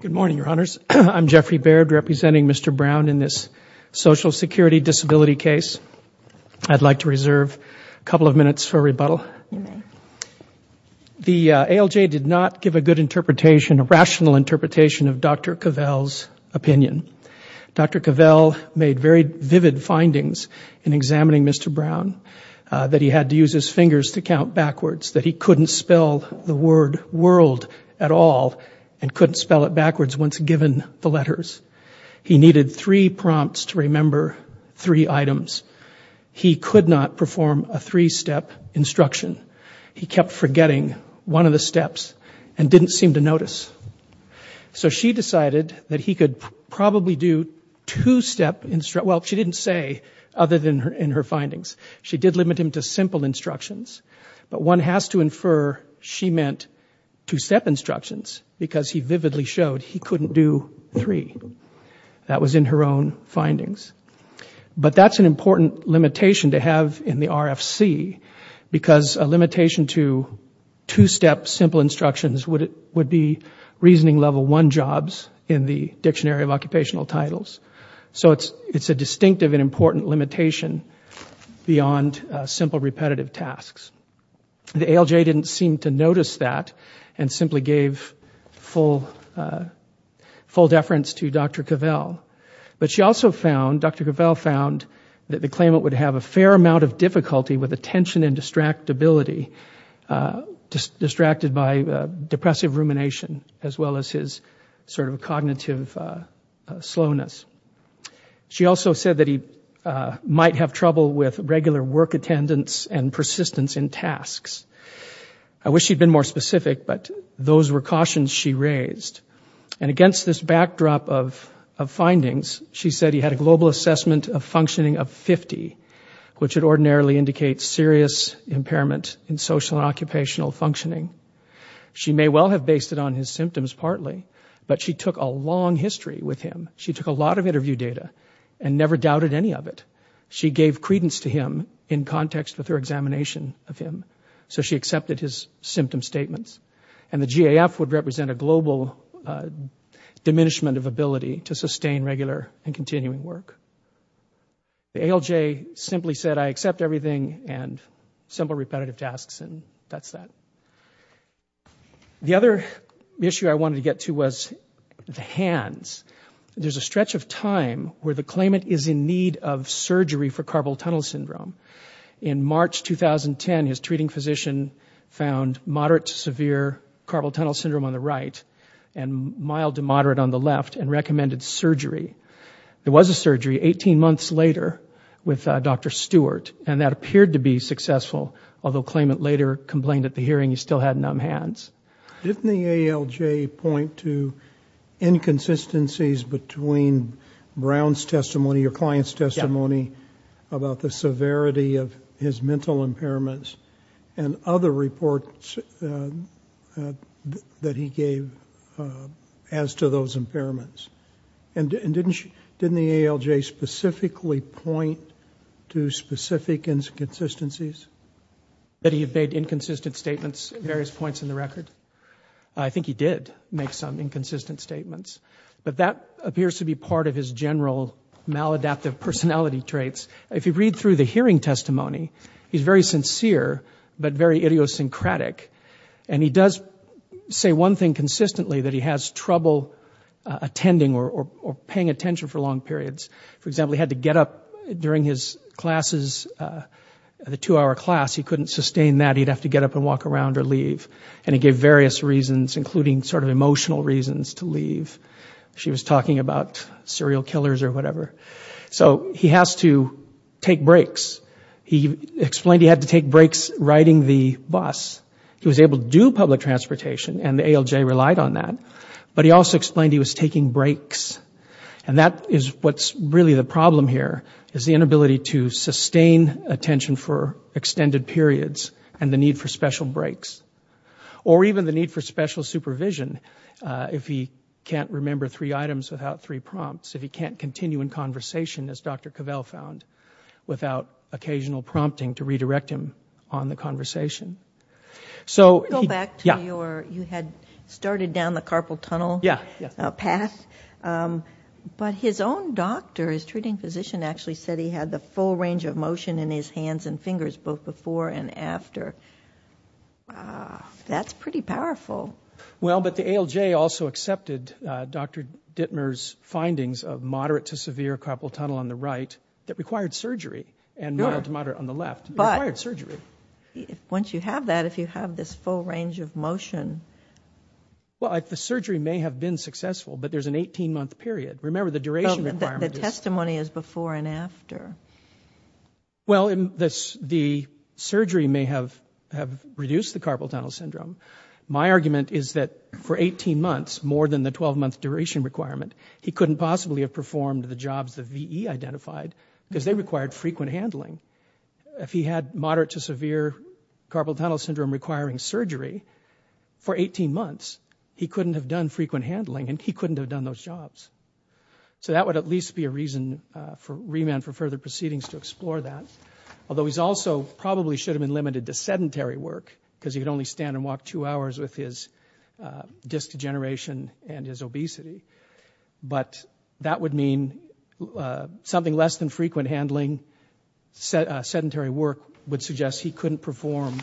Good morning, Your Honors. I'm Jeffrey Baird, representing Mr. Brown in this Social Security Disability case. I'd like to reserve a couple of minutes for rebuttal. The ALJ did not give a good interpretation, a rational interpretation of Dr. Cavell's opinion. Dr. Cavell made very vivid findings in examining Mr. Brown, that he had to use his fingers to count backwards, that he couldn't spell the word world at all, and couldn't spell it backwards once given the letters. He needed three prompts to remember three items. He could not perform a three-step instruction. He kept forgetting one of the steps and didn't seem to notice. So she decided that he could probably do two-step instruction. Well, she didn't say, other than in her findings. She did limit him to simple instructions. But one has to infer she meant two-step instructions, because he vividly showed he couldn't do three. That was in her own findings. But that's an important limitation to have in the RFC, because a limitation to two-step simple instructions would be reasoning level one jobs in the Dictionary of Occupational Titles. So it's a distinctive and important limitation beyond simple repetitive tasks. The ALJ didn't seem to notice that and simply gave full deference to Dr. Cavell. But she also found, Dr. Cavell found, that the claimant would have a fair amount of difficulty with attention and distractibility, distracted by depressive rumination as well as his sort of cognitive slowness. She also said that he might have trouble with regular work attendance and persistence in tasks. I wish she'd been more specific, but those were cautions she raised. And against this backdrop of findings, she said he had a global assessment of functioning of 50, which would ordinarily indicate serious impairment in social and occupational functioning. She may well have based it on his symptoms partly, but she took a long history with him. She gave him interview data and never doubted any of it. She gave credence to him in context with her examination of him. So she accepted his symptom statements. And the GAF would represent a global diminishment of ability to sustain regular and continuing work. The ALJ simply said, I accept everything and simple repetitive tasks and that's that. The other issue I wanted to get to was the hands. There's a stretch of time where the claimant is in need of surgery for Carpal Tunnel Syndrome. In March 2010, his treating physician found moderate to severe Carpal Tunnel Syndrome on the right and mild to moderate on the left and recommended surgery. There was a surgery 18 months later with Dr. Stewart and that appeared to be successful, although the claimant later complained at the hearing he still had numb hands. Didn't the ALJ point to inconsistencies between Brown's testimony or client's testimony about the severity of his mental impairments and other reports that he gave as to those impairments? And didn't the ALJ specifically point to specific inconsistencies? Did he have made inconsistent statements at various points in the record? I think he did make some inconsistent statements. But that appears to be part of his general maladaptive personality traits. If you read through the hearing testimony, he's very sincere but very idiosyncratic. And he does say one thing consistently that he has trouble attending or paying attention for long periods. For example, he had to get up during his classes, the two-hour class. He couldn't sustain that. He'd have to get up and walk around or leave. And he gave various reasons, including sort of emotional reasons to leave. She was talking about serial killers or whatever. So he has to take breaks. He explained he had to take breaks riding the bus. He was able to do public transportation and the ALJ relied on that. But he also explained he was taking breaks. And that is what's really the problem here, is the inability to sustain attention for extended periods and the need for special breaks. Or even the need for special supervision if he can't remember three items without three prompts. If he can't continue in conversation, as Dr. Cavell found, without occasional prompting to redirect him on the conversation. Go back to your, you had started down the carpal tunnel path. But his own doctor, his treating physician, actually said he had the full range of motion in his hands and fingers both before and after. That's pretty powerful. Well, but the ALJ also accepted Dr. Dittmer's findings of moderate to severe carpal tunnel on the right that required surgery. And mild to moderate on the left. It required surgery. But you don't have that if you have this full range of motion. Well, the surgery may have been successful, but there's an 18-month period. Remember, the duration requirement is... The testimony is before and after. Well, the surgery may have reduced the carpal tunnel syndrome. My argument is that for 18 months, more than the 12-month duration requirement, he couldn't possibly have performed the jobs the VE identified because they required frequent handling. If he had moderate to severe carpal tunnel syndrome requiring surgery for 18 months, he couldn't have done frequent handling, and he couldn't have done those jobs. So that would at least be a reason for remand for further proceedings to explore that. Although he also probably should have been limited to sedentary work because he could only stand and walk two hours with his disc degeneration and his obesity. But that would mean something less than frequent handling, and sedentary work would suggest he couldn't perform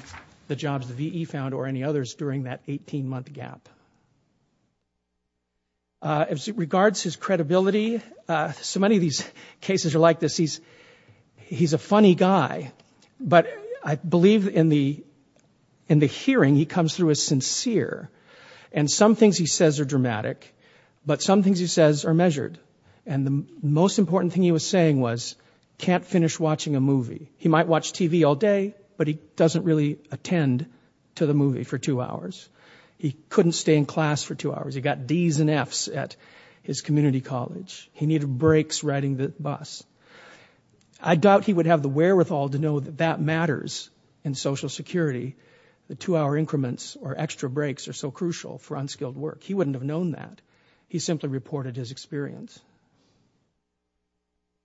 the jobs the VE found or any others during that 18-month gap. As it regards his credibility, so many of these cases are like this. He's a funny guy, but I believe in the hearing, he comes through as sincere. And some things he says are dramatic, but some things he says are measured. And the most important thing he was saying was, can't finish watching a movie. He might watch TV all day, but he doesn't really attend to the movie for two hours. He couldn't stay in class for two hours. He got Ds and Fs at his community college. He needed breaks riding the bus. I doubt he would have the wherewithal to know that that matters in Social Security, the two-hour increments or extra breaks are so crucial for unskilled work. He wouldn't have known that. He simply reported his experience.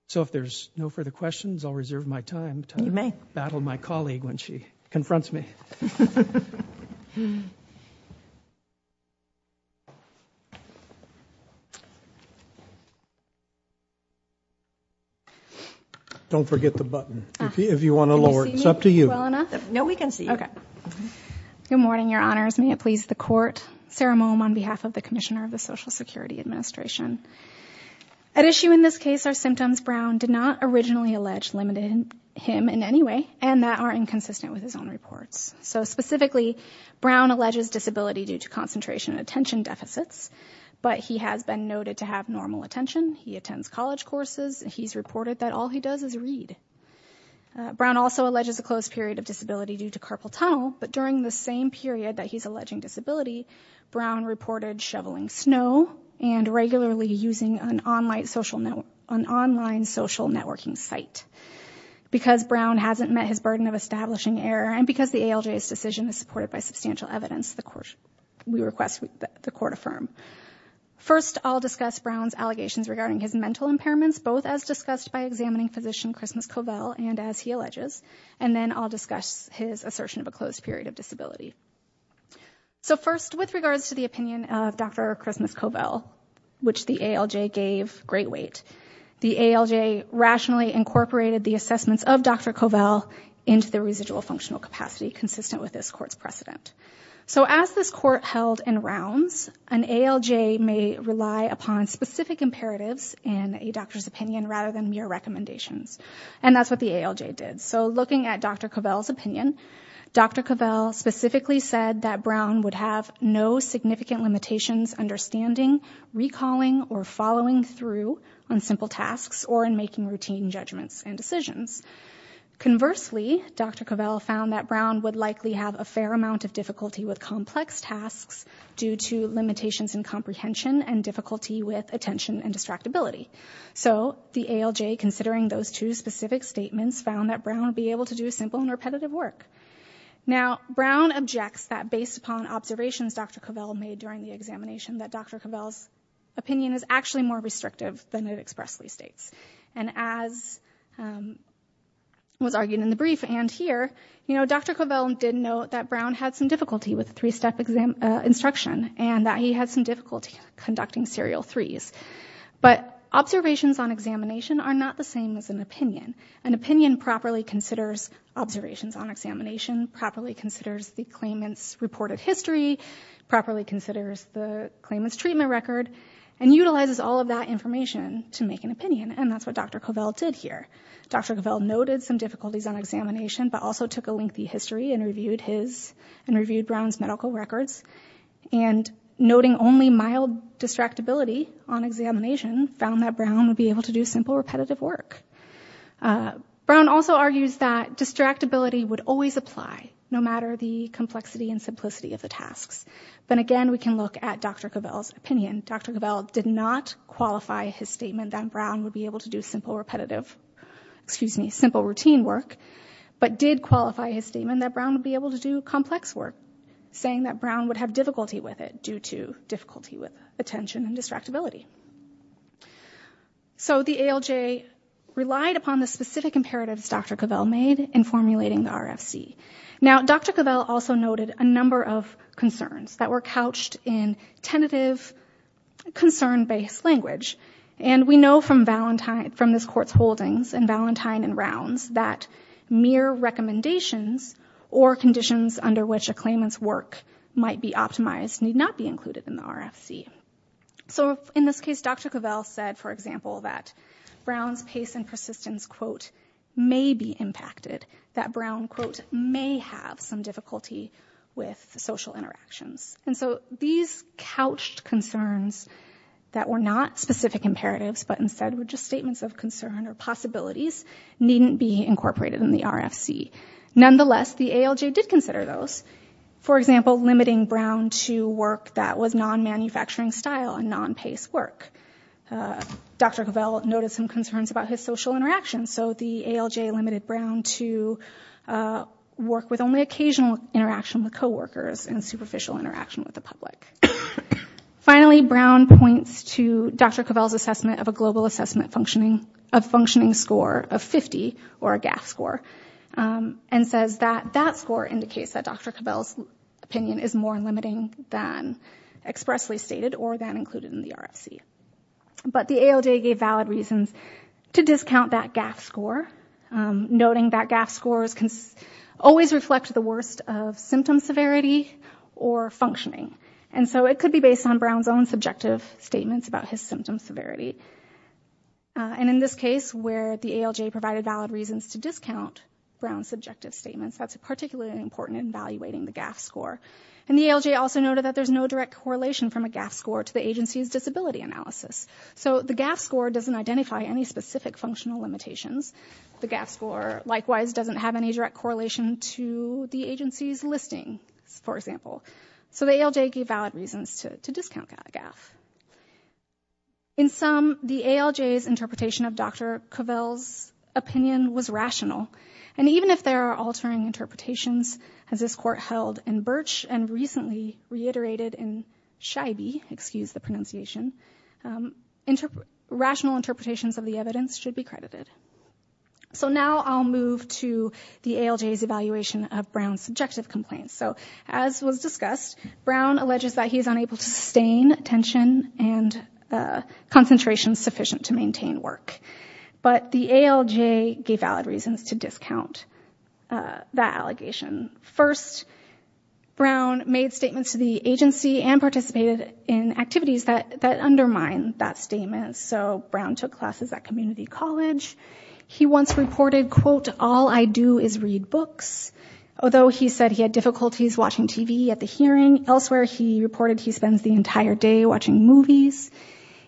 So if there's no further questions, I'll reserve my time to battle my colleague when she confronts me. Don't forget the button. If you want to lower it, it's up to you. No, we can see. Good morning, Your Honors. May it please the Court. Sarah Moehm on behalf of the Commissioner of the Social Security Administration. At issue in this case are symptoms Brown did not originally allege limited him in any way, and that are inconsistent with his own reports. So specifically, Brown alleges disability due to concentration and attention deficits. But he has been noted to have normal attention. He attends college courses. He's reported that all he does is read. Brown also alleges a closed period of disability due to carpal tunnel. But during the same period that he's alleging disability, Brown reported shoveling snow and regularly using an online social networking site. Because Brown hasn't met his burden of establishing error, and because the ALJ's decision is supported by substantial evidence, we request that the Court affirm. First, I'll discuss Brown's allegations regarding his mental impairments, both as discussed by examining physician Christmas Covell and as he alleges. And then I'll discuss his assertion of a closed period of disability. So first, with regards to the opinion of Dr. Christmas Covell, which the ALJ gave great weight, the ALJ rationally incorporated the assessments of Dr. Covell into the residual functional capacity consistent with this Court's precedent. So as this Court held in rounds, an ALJ may rely upon specific imperatives in a doctor's opinion rather than mere recommendations. And that's what the ALJ did. So looking at Dr. Covell's opinion, Dr. Covell specifically said that Brown would have no significant limitations understanding, recalling, or following through on simple tasks or in making routine judgments and decisions. Conversely, Dr. Covell found that Brown would likely have a fair amount of difficulty with complex tasks due to limitations in comprehension and difficulty with attention and distractibility. So the ALJ, considering those two specific statements, found that Brown would be able to do simple and repetitive work. Now, Brown objects that based upon observations Dr. Covell made during the examination, that Dr. Covell's opinion is actually more restrictive than it expressly states. And as was argued in the brief and here, Dr. Covell did note that Brown had some difficulty with the three-step instruction and that he had some difficulty conducting serial threes. But observations on examination are not the same as an opinion. An opinion properly considers observations on examination, properly considers the claimant's reported history, properly considers the claimant's treatment record, and utilizes all of that information to make an opinion. And that's what Dr. Covell did here. Dr. Covell noted some difficulties on examination, but also took a lengthy history and reviewed Brown's medical records. And noting only mild distractibility on examination, found that Brown would be able to do simple, repetitive work. Brown also argues that distractibility would always apply, no matter the complexity and simplicity of the tasks. But again, we can look at Dr. Covell's opinion. Dr. Covell did not qualify his statement that Brown would be able to do simple, repetitive, excuse me, simple routine work, but did qualify his statement that Brown would be able to do complex work, saying that Brown would have difficulty with it due to difficulty with attention and distractibility. So the ALJ relied upon the specific imperatives Dr. Covell made in formulating the RFC. Now, Dr. Covell also noted a number of concerns that were couched in tentative, concern-based language. And we know from this Court's holdings in Valentine and Rounds that mere recommendations or conditions under which a claimant's work might be optimized need not be included in the RFC. So in this case, Dr. Covell said, for example, that Brown's pace and persistence quote, may be impacted, that Brown quote, may have some difficulty with social interactions. And so these couched concerns that were not specific imperatives, but instead were just statements of concern or possibilities needn't be incorporated in the RFC. Nonetheless, the ALJ did consider those. For example, limiting Brown to work that was non-manufacturing style and non-pace work. Dr. Covell noted some concerns about his social interactions. So the ALJ limited Brown to work with only occasional interaction with coworkers and superficial interaction with the public. Finally, Brown points to Dr. Covell's assessment of a global assessment functioning, a functioning score of 50, or a GAF score, and says that that score indicates that Dr. Covell's opinion is more limiting than expressly stated or than included in the RFC. But the ALJ gave valid reasons to discount that GAF score, noting that GAF scores can always reflect the worst of symptom severity or functioning. And so it could be based on Brown's own subjective statements about his symptom severity. And in this case, where the ALJ provided valid reasons to discount Brown's subjective statements, that's particularly important in evaluating the GAF score. And the ALJ also noted that there's no direct correlation from a GAF score to the agency's disability analysis. So the GAF score doesn't identify any specific functional limitations. The GAF score, likewise, doesn't have any direct correlation to the agency's listing, for example. So the ALJ gave valid reasons to discount GAF. In sum, the ALJ's interpretation of Dr. Covell's opinion was rational. And even if there are altering interpretations, as this court held in Birch and recently reiterated in Scheibe, excuse the pronunciation, rational interpretations of the evidence should be credited. So now I'll move to the ALJ's evaluation of Brown's subjective complaints. So as was discussed, Brown alleges that he is unable to sustain tension and concentration sufficient to maintain work. But the ALJ gave valid reasons to discount that allegation. First, Brown made statements to the agency and participated in activities that undermine that statement. So Brown took classes at community college. He once reported, quote, all I do is read books. Although he said he had difficulties watching TV at the hearing, elsewhere he reported he spends the entire day watching movies.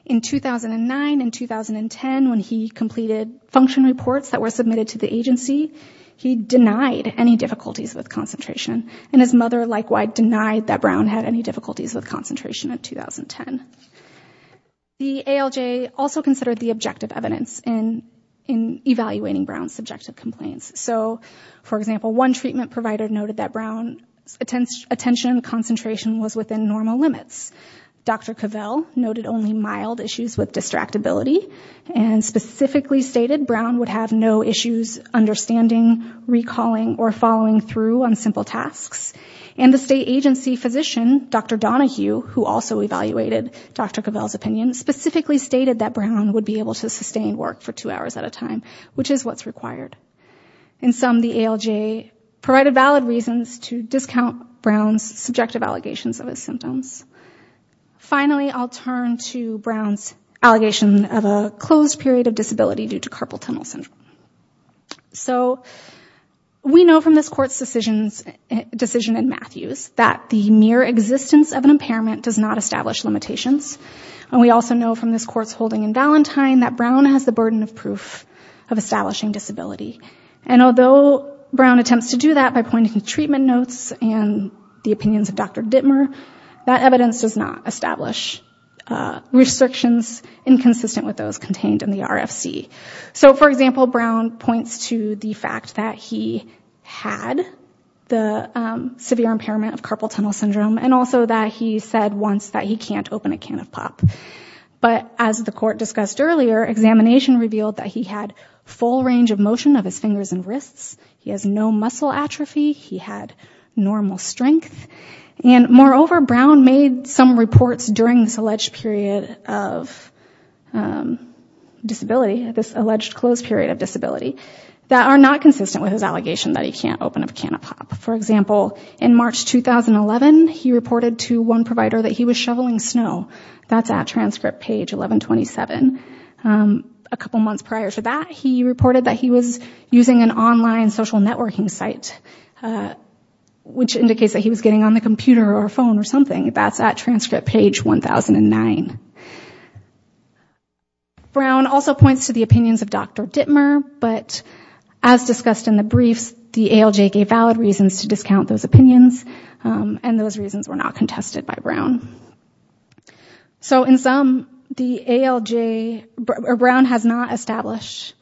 In 2009 and 2010, when he completed function reports that were submitted to the agency, he denied any difficulties with concentration. And his mother, likewise, denied that Brown had any difficulties with concentration in 2010. The ALJ also considered the objective evidence in evaluating Brown's subjective complaints. So, for example, one treatment provider noted that Brown's attention and concentration was within normal limits. Dr. Cavell noted only mild issues with distractibility and specifically stated Brown would have no issues understanding, recalling, or following through on simple tasks. And the state agency physician, Dr. Donahue, who also evaluated Dr. Cavell's opinion, specifically stated that Brown would be able to sustain work for two hours at a time, which is what's required. In sum, the ALJ provided valid reasons to discount Brown's subjective allegations of his symptoms. Finally, I'll turn to Brown's allegation of a closed period of disability due to carpal tunnel syndrome. So, we know from this court's decision in Matthews that the mere existence of an impairment does not establish limitations. And we also know from this court's holding in Valentine that Brown has the burden of proof of establishing disability. And although Brown attempts to do that by pointing to treatment notes and the opinions of Dr. Dittmer, he does not establish restrictions inconsistent with those contained in the RFC. So, for example, Brown points to the fact that he had the severe impairment of carpal tunnel syndrome and also that he said once that he can't open a can of pop. But as the court discussed earlier, examination revealed that he had full range of motion of his fingers and wrists. He has no muscle atrophy. He had normal strength. And moreover, Brown made some reports during this alleged period of disability, this alleged closed period of disability that are not consistent with his allegation that he can't open a can of pop. For example, in March 2011, he reported to one provider that he was shoveling snow. That's at transcript page 1127. A couple months prior to that, he reported that he was using an online social networking site, which indicates that he was getting on the computer or phone or something. That's at transcript page 1009. Brown also points to the opinions of Dr. Dittmer, but as discussed in the briefs, the ALJ gave valid reasons to discount those opinions, and those reasons were not contested by Brown. So, in sum, the ALJ, Brown has not established,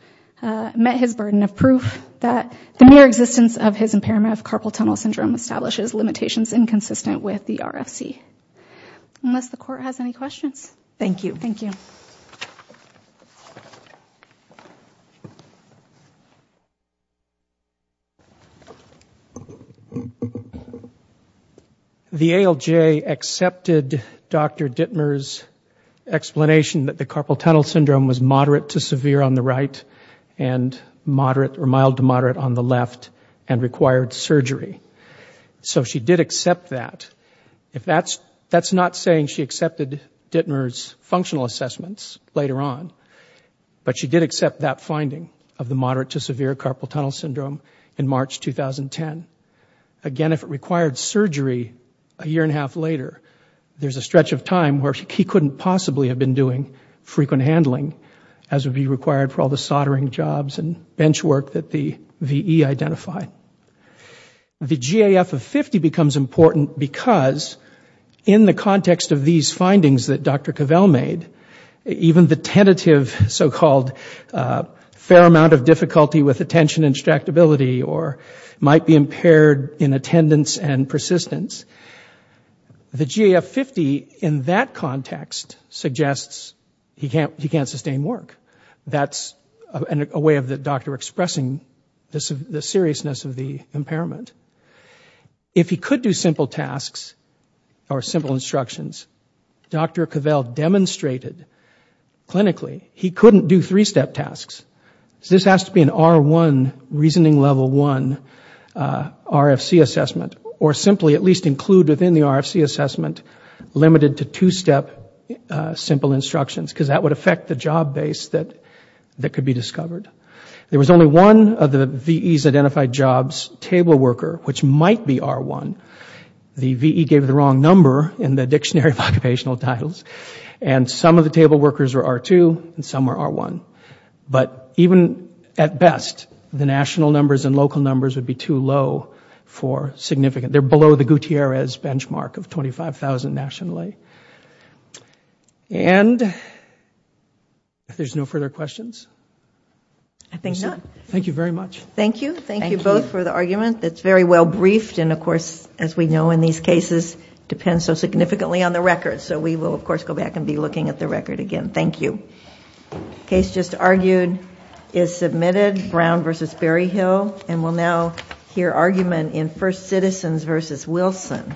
met his burden of proof that the mere existence of his impairment of carpal tunnel syndrome establishes limitations inconsistent with the RFC. Unless the court has any questions. Thank you. Thank you. The ALJ accepted Dr. Dittmer's explanation that the carpal tunnel syndrome was moderate to severe on the right and moderate or mild to moderate on the left and required surgery. So she did accept that. That's not saying she accepted Dittmer's functional assessments later on, but she did accept that finding of the moderate to severe carpal tunnel syndrome in March 2010. Again, if it required surgery a year and a half later, there's a stretch of time where he couldn't possibly have been doing frequent handling as would be required for all the soldering jobs and bench work that the VE identified and identified. The GAF of 50 becomes important because in the context of these findings that Dr. Cavell made, even the tentative so-called fair amount of difficulty with attention and tractability or might be impaired in attendance and persistence, the GAF 50 in that context suggests he can't sustain work. That's a way of the doctor expressing the seriousness of the impairment. If he could do simple tasks or simple instructions, Dr. Cavell demonstrated clinically he couldn't do three-step tasks. This has to be an R1, reasoning level one, RFC assessment or simply at least include within the RFC assessment limited to two-step simple instructions because that would affect the job base that could be discovered. There was only one of the VE's identified jobs table worker which might be R1. The VE gave the wrong number in the dictionary of occupational titles and some of the table workers are R2 and some are R1. But even at best, the national numbers and local numbers would be too low for significant. They're below the Gutierrez benchmark of 25,000 nationally. And if there's no further questions, I think that's it. Thank you very much. Thank you both for the argument. It's very well briefed and of course as we know in these cases depends so significantly on the record so we will of course go back and be looking at the record again. Thank you. Case just argued is submitted, Brown versus Berryhill and we'll now hear argument in First Citizens versus Wilson.